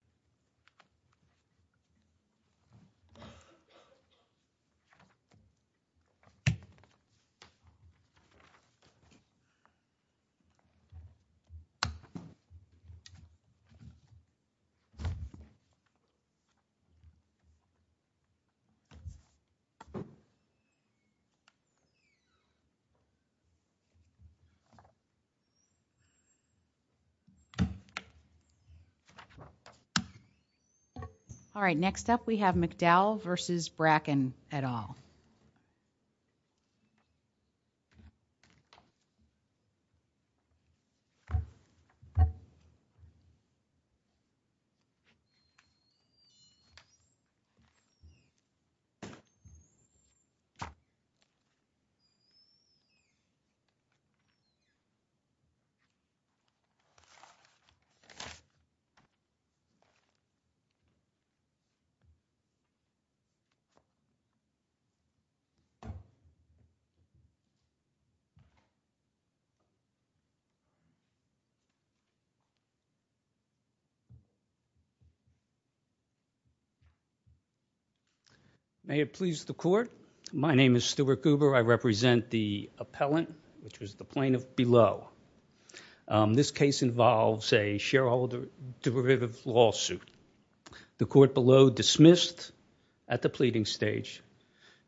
George Bracken v. George Bracken all right next up we have McDowell versus Bracken et al may it please the court my name is Stuart Goober I represent the appellant which was the plaintiff below this case involves a shareholder derivative lawsuit the court below dismissed at the pleading stage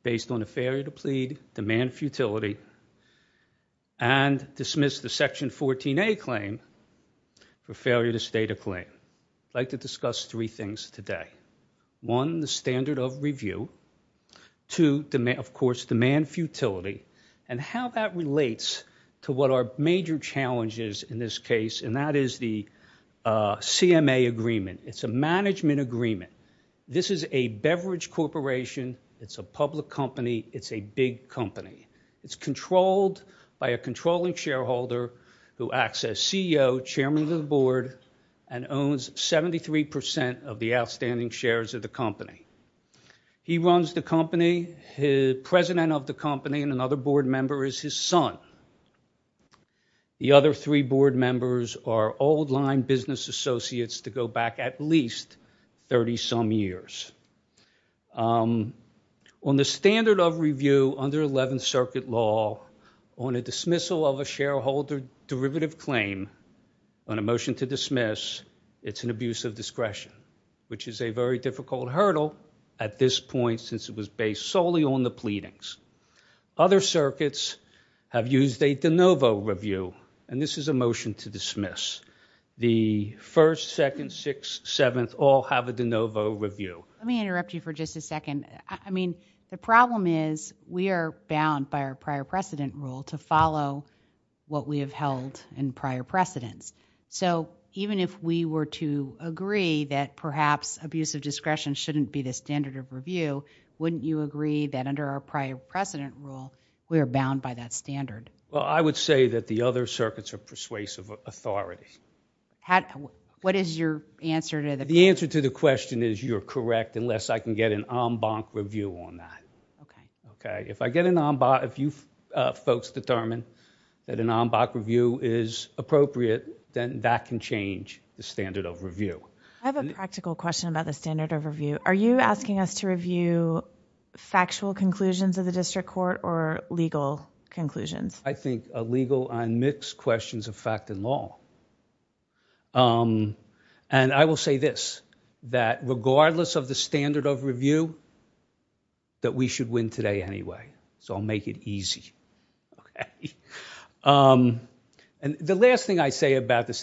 based on a failure to plead demand futility and dismissed the section 14a claim for failure to state a claim I'd like to discuss three things today one the standard of review two of course demand futility and how that relates to what our major challenges in this case and that is the CMA agreement it's a management agreement this is a beverage corporation it's a public company it's a big company it's controlled by a controlling shareholder who acts as CEO chairman of the board and owns 73 percent of the outstanding shares of the company he runs the company his president of the company and another board member is his son the other three board members are old-line business associates to go back at least 30 some years on the standard of review under 11th Circuit law on a dismissal of a shareholder derivative claim on a motion to was based solely on the pleadings other circuits have used a de novo review and this is a motion to dismiss the first second six seventh all have a de novo review let me interrupt you for just a second I mean the problem is we are bound by our prior precedent rule to follow what we have held in prior precedents so even if we were to agree that perhaps abuse of discretion shouldn't be the standard of review wouldn't you agree that under our prior precedent rule we are bound by that standard well I would say that the other circuits are persuasive authorities had what is your answer to the answer to the question is you're correct unless I can get an en banc review on that okay okay if I get an en banc if you folks determine that an en banc review is appropriate then that can change the standard of review I have a practical question about the standard of asking us to review factual conclusions of the district court or legal conclusions I think a legal and mixed questions of fact and law and I will say this that regardless of the standard of review that we should win today anyway so I'll make it easy and the last thing I say about the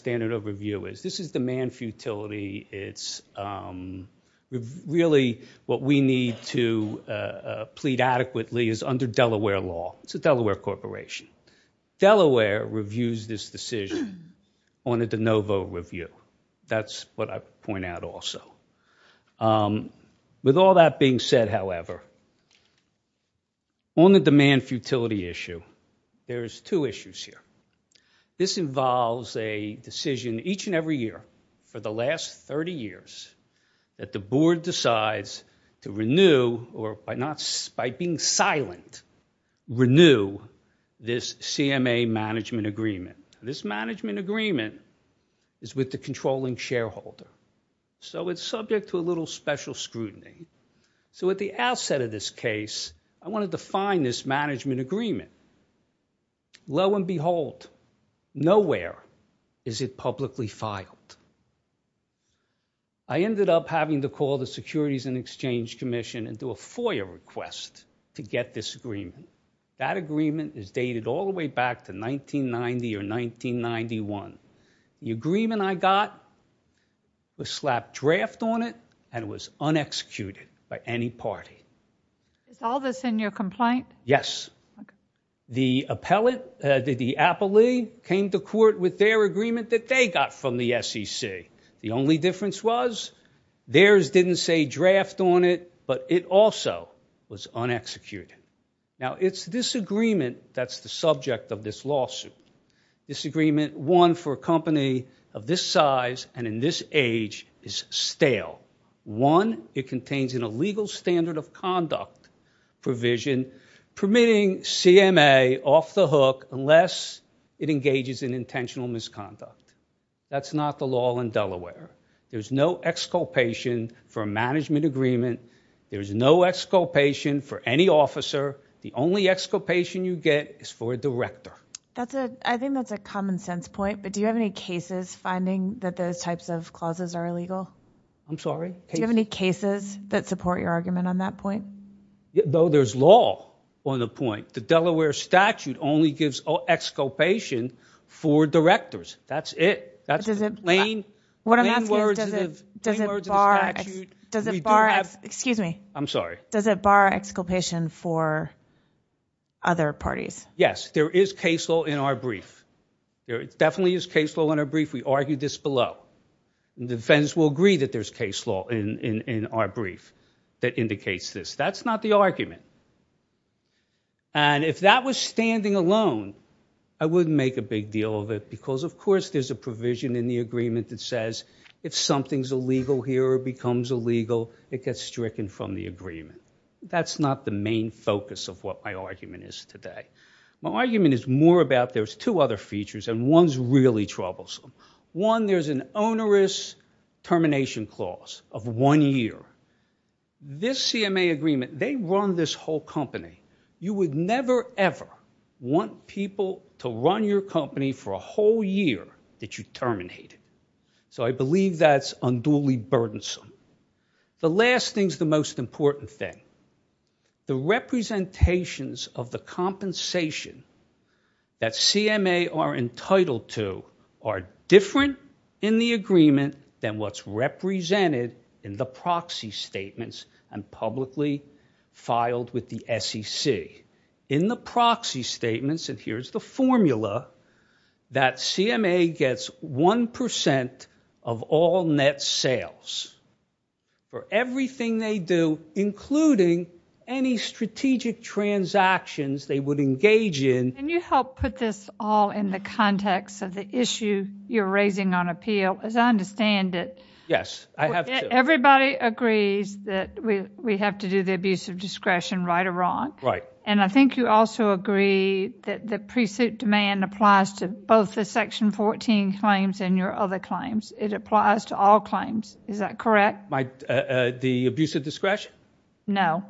what we need to plead adequately is under Delaware law it's a Delaware corporation Delaware reviews this decision on a de novo review that's what I point out also with all that being said however on the demand futility issue there's two issues here this involves a decision each and the last 30 years that the board decides to renew or by not by being silent renew this CMA management agreement this management agreement is with the controlling shareholder so it's subject to a little special scrutiny so at the outset of this case I want to define this I ended up having to call the Securities and Exchange Commission and do a FOIA request to get this agreement that agreement is dated all the way back to 1990 or 1991 the agreement I got was slapped draft on it and was unexecuted by any party it's all this in your complaint yes the appellate did the appellee came to court with their agreement that they got from the SEC the only difference was theirs didn't say draft on it but it also was unexecuted now it's disagreement that's the subject of this lawsuit this agreement one for a company of this size and in this age is stale one it contains in a legal standard of conduct provision permitting CMA off the hook unless it engages in intentional misconduct that's not the law in Delaware there's no exculpation for a management agreement there's no exculpation for any officer the only exculpation you get is for a director that's a I think that's a common sense point but do you have any cases finding that those types of clauses are illegal I'm sorry do you have any cases that support your argument on that point though there's law on the point the Delaware statute only gives exculpation for directors that's it that's a plane what I'm asking does it does it bar does it bar excuse me I'm sorry does it bar exculpation for other parties yes there is case law in our brief there definitely is case law in our brief we argued this below the defense will agree that there's case law in in our brief that indicates this that's not the argument and if that was standing alone I wouldn't make a big deal of it because of course there's a provision in the agreement that says if something's illegal here or becomes illegal it gets stricken from the agreement that's not the main focus of what my argument is today my argument is more about there's two other features and one's really troublesome one there's an onerous termination clause of one year this CMA agreement they run this whole company you would never ever want people to run your company for a whole year that you terminate it so I believe that's unduly burdensome the last thing's the most important thing the representations of the compensation that CMA are entitled to are different in the agreement than what's represented in the proxy statements and publicly filed with the SEC in the proxy statements and here's the formula that CMA gets one percent of all net sales for everything they do including any strategic transactions they would engage in can you help put this all in the context of the issue you're raising on appeal as I understand it yes I have everybody agrees that we we have to do the abuse of discretion right or wrong right and I think you also agree that the pre-suit demand applies to both the section 14 claims and your other claims it applies to all claims is that correct the abuse of discretion no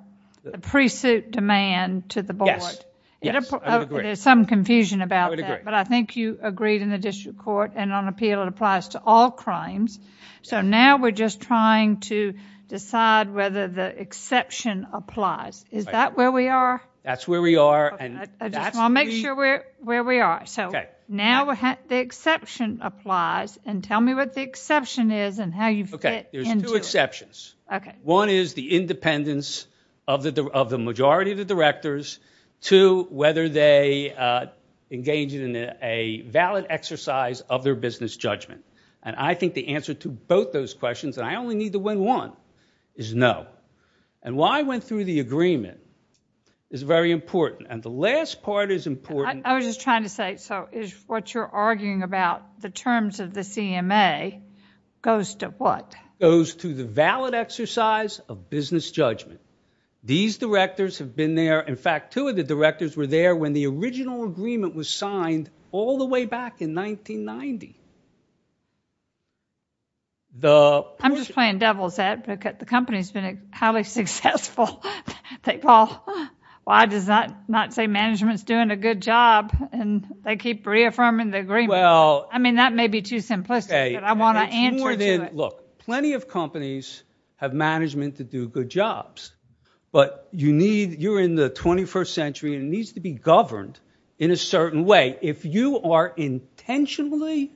the pre-suit demand to the board yes there's some confusion about that but I think you agreed in the district court and on appeal it applies to all crimes so now we're just trying to decide whether the exception applies is that where we are that's where we are and I'll make sure we're where we are so now the exception applies and tell me what the exception is and how you fit okay there's two exceptions okay one is the independence of the of the majority of the directors to whether they uh engage in a valid exercise of their business judgment and I think the answer to both those questions and I only need to win one is no and why I went through the agreement is very important and the last part is important I was trying to say so is what you're arguing about the terms of the CMA goes to what goes to the valid exercise of business judgment these directors have been there in fact two of the directors were there when the original agreement was signed all the way back in 1990. The I'm just playing devil's advocate the company's been highly successful thank Paul why does that not say management's doing a good job and they keep reaffirming the agreement well I mean that may be too simplistic but I want to answer look plenty of companies have management to do good jobs but you need you're in the 21st century and needs to be governed in a certain way if you are intentionally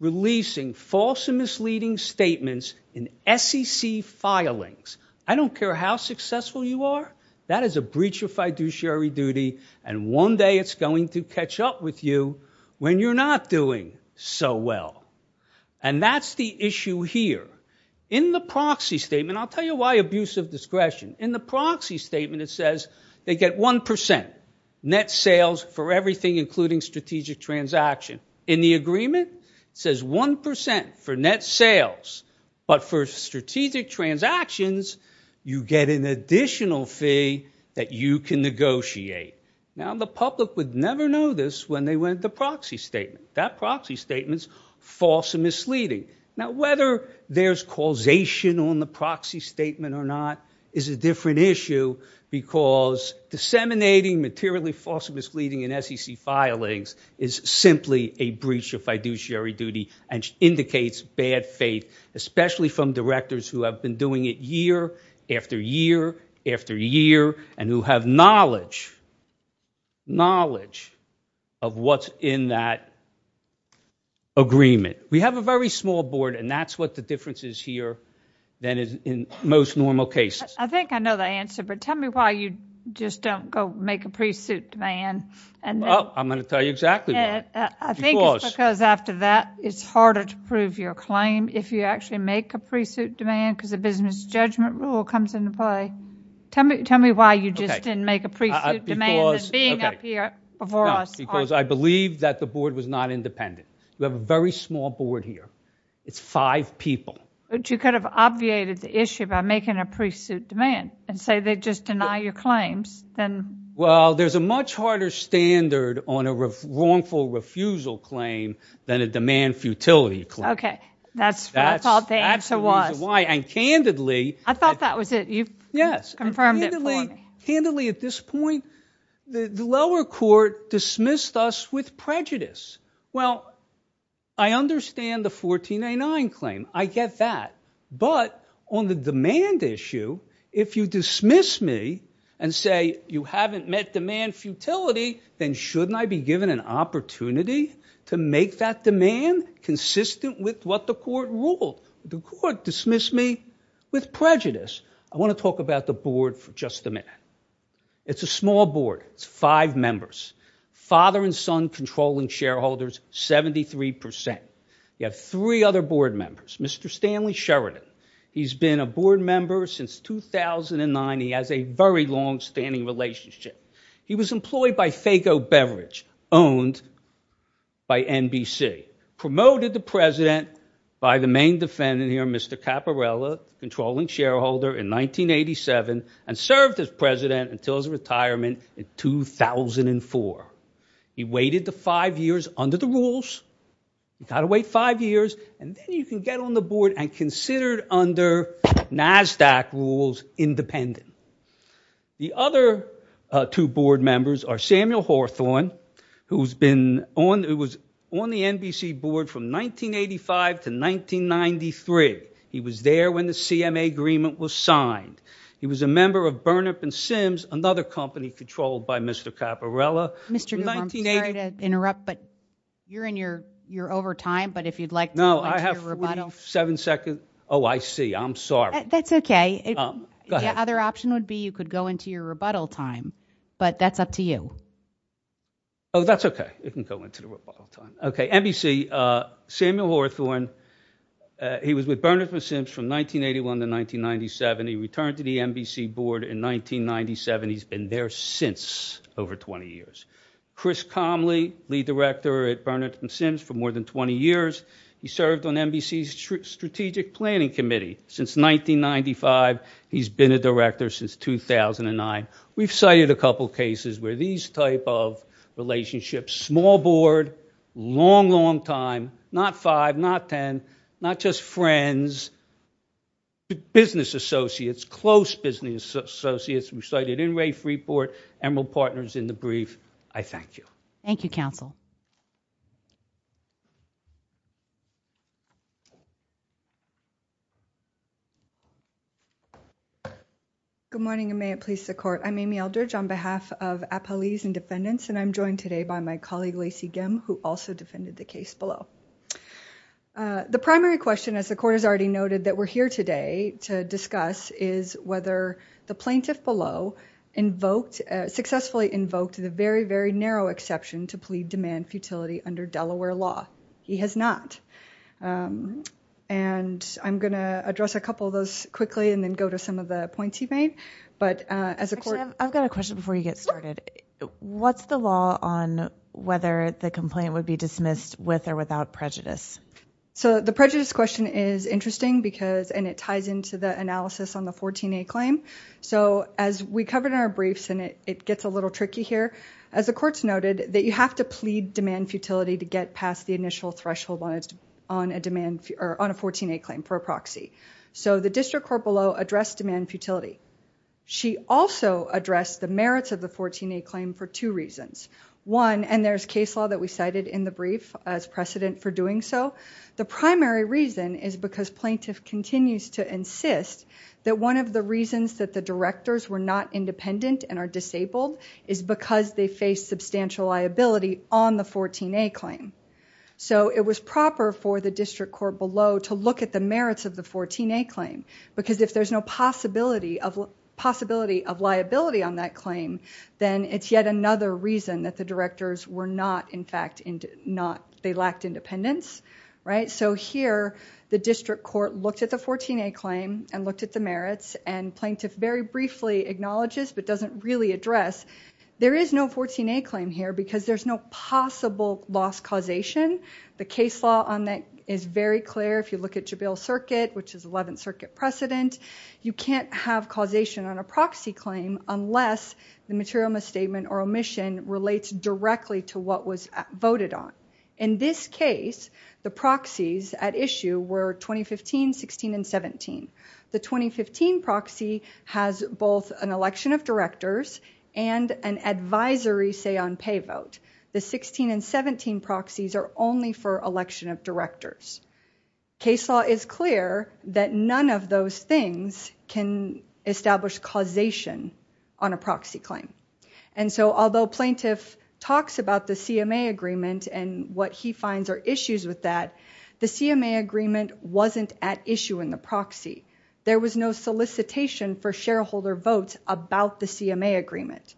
releasing false and misleading statements in SEC filings I don't care how successful you are that is a breach of fiduciary duty and one day it's going to catch up with you when you're not doing so well and that's the issue here in the proxy statement I'll tell you why abuse of discretion in the proxy statement it says they get one percent net sales for everything including strategic transaction in the agreement says one percent for net sales but for strategic transactions you get an additional fee that you can negotiate now the public would never know this when they went the proxy statement that proxy statements false and misleading now whether there's causation on the proxy statement or not is a different issue because disseminating materially false and misleading in SEC filings is simply a breach of fiduciary duty and indicates bad faith especially from directors who have been doing it year after year after year and who have knowledge knowledge of what's in that agreement we have a very small board and that's what the difference is here than is in most normal cases I think I know the answer but tell me why you just don't go make a pre-suit demand and well I'm going to tell you exactly that I think because after that it's harder to prove your claim if you actually make a pre-suit demand because the business judgment rule comes into play tell me tell me why you just didn't make a pre-suit demand because I believe that the board was not independent we have a very small board here it's five people but you could have obviated the issue by making a pre-suit demand and say they just deny your claims then well there's a much harder standard on a wrongful refusal claim than a demand futility claim okay that's what I thought the answer was why and candidly I thought that was it you've confirmed it for me candidly at this point the lower court dismissed us with and say you haven't met demand futility then shouldn't I be given an opportunity to make that demand consistent with what the court ruled the court dismissed me with prejudice I want to talk about the board for just a minute it's a small board it's five members father and son controlling shareholders 73 you have three other board members Mr. Stanley Sheridan he's been a board member since 2009 he has a very long-standing relationship he was employed by Faygo beverage owned by NBC promoted the president by the main defendant here Mr. Caparella controlling shareholder in 1987 and served as president until his retirement in 2004 he waited the five years under the rules you got to wait five years and then you can get on the board and considered under NASDAQ rules independent the other two board members are Samuel Hawthorne who's been on it was on the NBC board from 1985 to 1993 he was there when the CMA agreement was signed he was a member of Burnham and Sims another company controlled by Mr. Caparella Mr. interrupt but you're in your you're over time but if you'd like no I have seven seconds oh I see I'm sorry that's okay the other option would be you could go into your rebuttal time but that's up to you oh that's okay it can go into the rebuttal time okay NBC uh Samuel Hawthorne he was with Burnham and Sims from 1981 to 1997 he returned to the NBC board in 1997 he's been there since over 20 years Chris Comley lead director at Burnham and Sims for more than 20 years he served on NBC's strategic planning committee since 1995 he's been a director since 2009 we've cited a couple cases where these type of relationships small board long long time not five not ten not just friends business associates close business associates cited in Rafe report Emerald Partners in the brief I thank you thank you counsel good morning and may it please the court I'm Amy Eldridge on behalf of Appalese and defendants and I'm joined today by my colleague Lacey Gimm who also defended the case below the primary question as the court has already noted that we're here today to discuss is whether the plaintiff below invoked successfully invoked the very very narrow exception to plead demand futility under Delaware law he has not and I'm going to address a couple of those quickly and then go to some of the points he made but as a court I've got a question before you get started what's the law on whether the complaint would be dismissed with or without prejudice so the prejudice question is interesting because and it ties into the analysis on the 14a claim so as we covered in our briefs and it it gets a little tricky here as the court's noted that you have to plead demand futility to get past the initial threshold on it on a demand or on a 14a claim for a proxy so the district court below addressed demand futility she also addressed the merits of the 14a claim for two reasons one and there's case law that we cited in the brief as precedent for doing so the primary reason is because plaintiff continues to insist that one of the reasons that the directors were not independent and are disabled is because they face substantial liability on the 14a claim so it was proper for the district court below to look at the merits of the 14a claim because if there's no possibility of possibility of liability on that claim then it's yet another reason that the directors were not in fact into not they lacked independence right so here the district court looked at the 14a claim and looked at the merits and plaintiff very briefly acknowledges but doesn't really address there is no 14a claim here because there's no possible loss causation the case law on that is very clear if you look at jabil circuit which is 11th circuit precedent you can't have causation on a proxy claim unless the material misstatement or omission relates directly to what was voted on in this case the proxies at issue were 2015 16 and 17 the 2015 proxy has both an election of directors and an advisory say on pay vote the 16 and 17 proxies are only for election of directors case law is clear that none of those things can establish causation on a proxy claim and so although plaintiff talks about the cma agreement and what he finds are issues with that the cma agreement wasn't at issue in the proxy there was no solicitation for shareholder votes about the cma agreement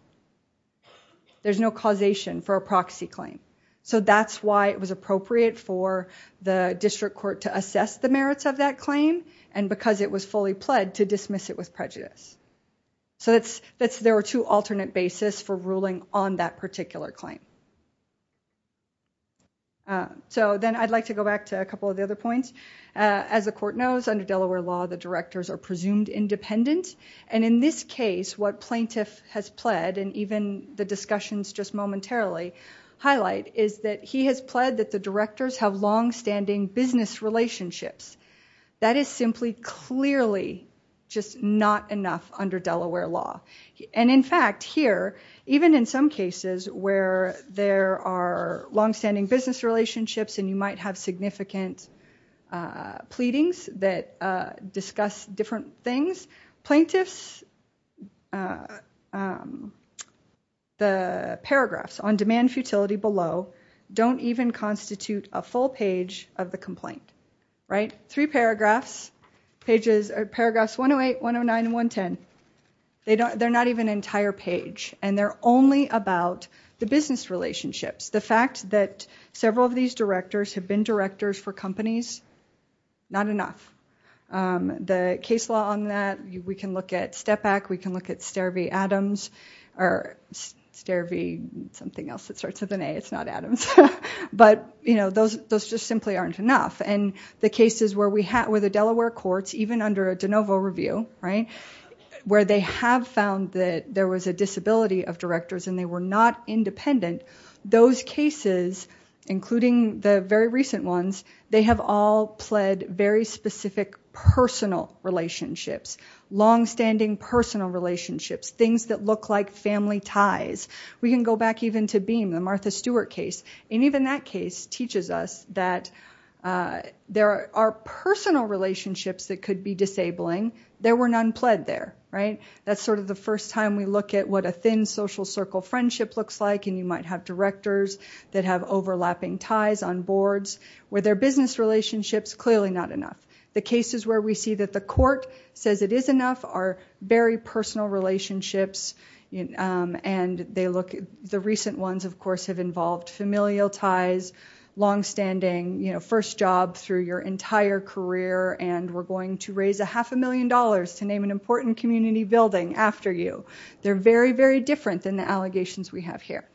there's no causation for a proxy claim so that's why it was appropriate for the district court to assess the merits of that claim and because it was fully pled to dismiss it with on that particular claim so then I'd like to go back to a couple of the other points as the court knows under Delaware law the directors are presumed independent and in this case what plaintiff has pled and even the discussions just momentarily highlight is that he has pled that the directors have long-standing business relationships that is simply clearly just not enough under Delaware law and in fact here even in some cases where there are long-standing business relationships and you might have significant pleadings that discuss different things plaintiffs the paragraphs on demand futility below don't even constitute a full page of the complaint right three paragraphs pages or paragraphs 108 109 and 110 they don't they're not even an entire page and they're only about the business relationships the fact that several of these directors have been directors for companies not enough the case law on that we can look at step back we can look at stair v adams or stair v something else that starts with an a it's not but you know those those just simply aren't enough and the cases where we have where the Delaware courts even under a de novo review right where they have found that there was a disability of directors and they were not independent those cases including the very recent ones they have all pled very specific personal relationships long-standing personal relationships things that look like family ties we can go back even to beam the Martha Stewart case and even that case teaches us that there are personal relationships that could be disabling there were none pled there right that's sort of the first time we look at what a thin social circle friendship looks like and you might have directors that have overlapping ties on boards where their business relationships clearly not enough the cases where we see that the court says it is enough are very personal relationships and they look at the recent ones of course have involved familial ties long-standing you know first job through your entire career and we're going to raise a half a million dollars to name an important community building after you they're very very different than the allegations we have here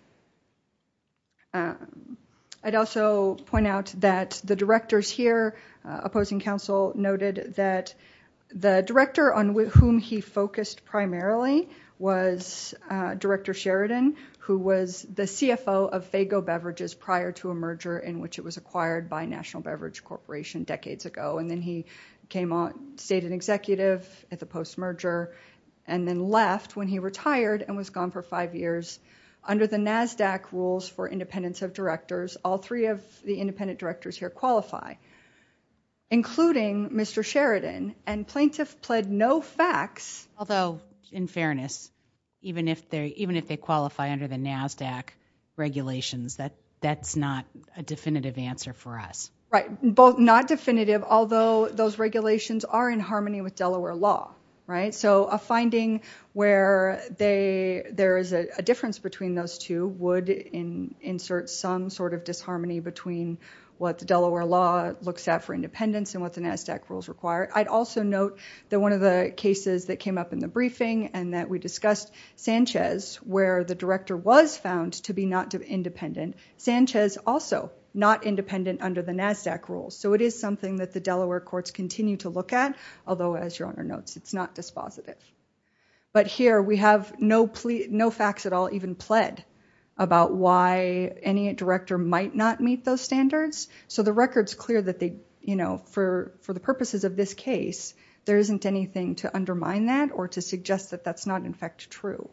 I'd also point out that the directors here opposing council noted that the director on with whom he focused primarily was director Sheridan who was the CFO of Faygo beverages prior to a merger in which it was acquired by National Beverage Corporation decades ago and then he came on stated executive at the post merger and then left when he retired and was gone for five years under the NASDAQ rules for independence of directors all three of the and plaintiff pled no facts although in fairness even if they're even if they qualify under the NASDAQ regulations that that's not a definitive answer for us right both not definitive although those regulations are in harmony with Delaware law right so a finding where they there is a difference between those two would in insert some sort of disharmony between what the Delaware law looks at for independence and what the NASDAQ rules require I'd also note that one of the cases that came up in the briefing and that we discussed Sanchez where the director was found to be not independent Sanchez also not independent under the NASDAQ rules so it is something that the Delaware courts continue to look at although as your honor notes it's not dispositive but here we have no plea no facts at all even pled about why any director might not meet those standards so the record's clear that they you know for for the purposes of this case there isn't anything to undermine that or to suggest that that's not in fact true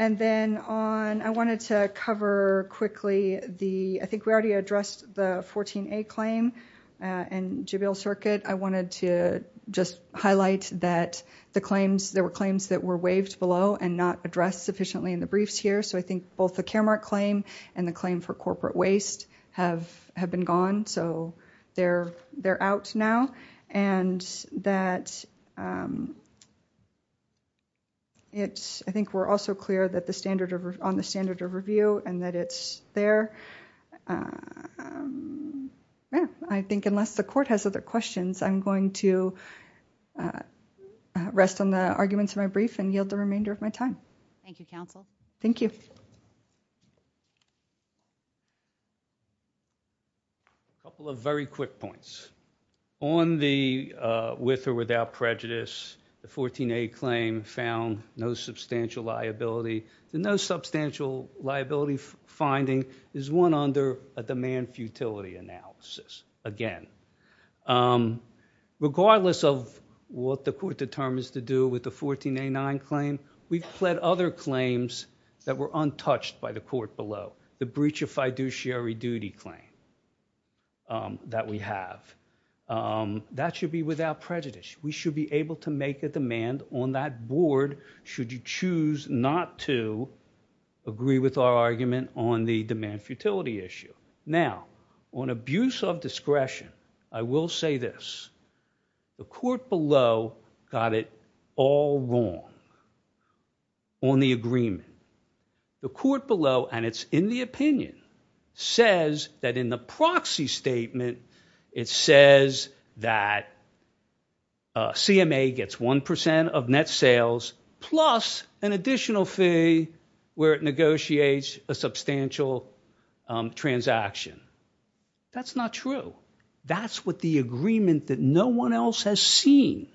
and then on I wanted to cover quickly the I think we already addressed the 14a claim and jubilee circuit I wanted to just highlight that the claims there were claims that were waived below and not addressed sufficiently in the briefs here so I think both the care claim and the claim for corporate waste have have been gone so they're they're out now and that it's I think we're also clear that the standard of on the standard of review and that it's there yeah I think unless the court has other questions I'm going to rest on the arguments in my brief and yield the remainder of my time thank you counsel thank you a couple of very quick points on the with or without prejudice the 14a claim found no substantial liability the no substantial liability finding is one under a demand futility analysis again regardless of what the court determines to do with the 14a9 claim we've fled other claims that were untouched by the court below the breach of fiduciary duty claim that we have that should be without prejudice we should be able to make a demand on that board should you choose not to agree with our argument on the demand futility issue now on abuse of on the agreement the court below and it's in the opinion says that in the proxy statement it says that cma gets one percent of net sales plus an additional fee where it negotiates a substantial transaction that's not true that's what the agreement that no one else has seen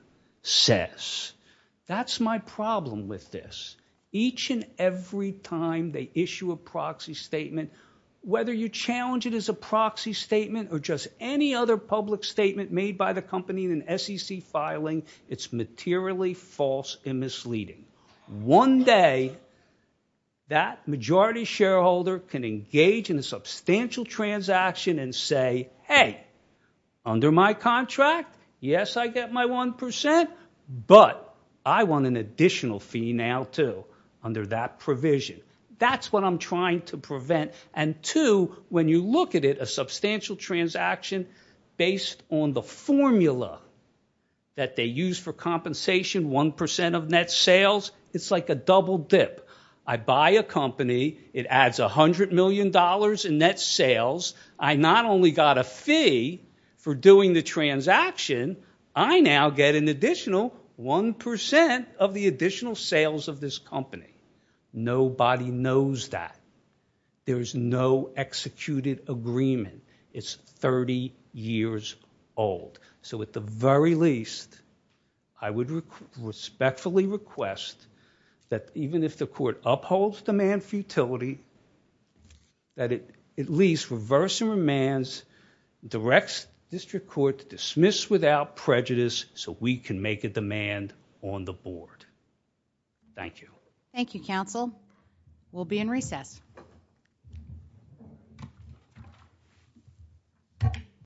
says that's my problem with this each and every time they issue a proxy statement whether you challenge it as a proxy statement or just any other public statement made by the company in an sec filing it's materially false and misleading one day that majority shareholder can engage in a substantial transaction and say hey under my contract yes I get my one percent but I want an additional fee now too under that provision that's what I'm trying to prevent and two when you look at it a substantial transaction based on the formula that they million dollars in net sales I not only got a fee for doing the transaction I now get an additional one percent of the additional sales of this company nobody knows that there is no executed agreement it's 30 years old so at the very least I would respectfully request that even if the court upholds demand for utility that it at least reverse and remands directs district court to dismiss without prejudice so we can make a demand on the board thank you thank you counsel we'll be in recess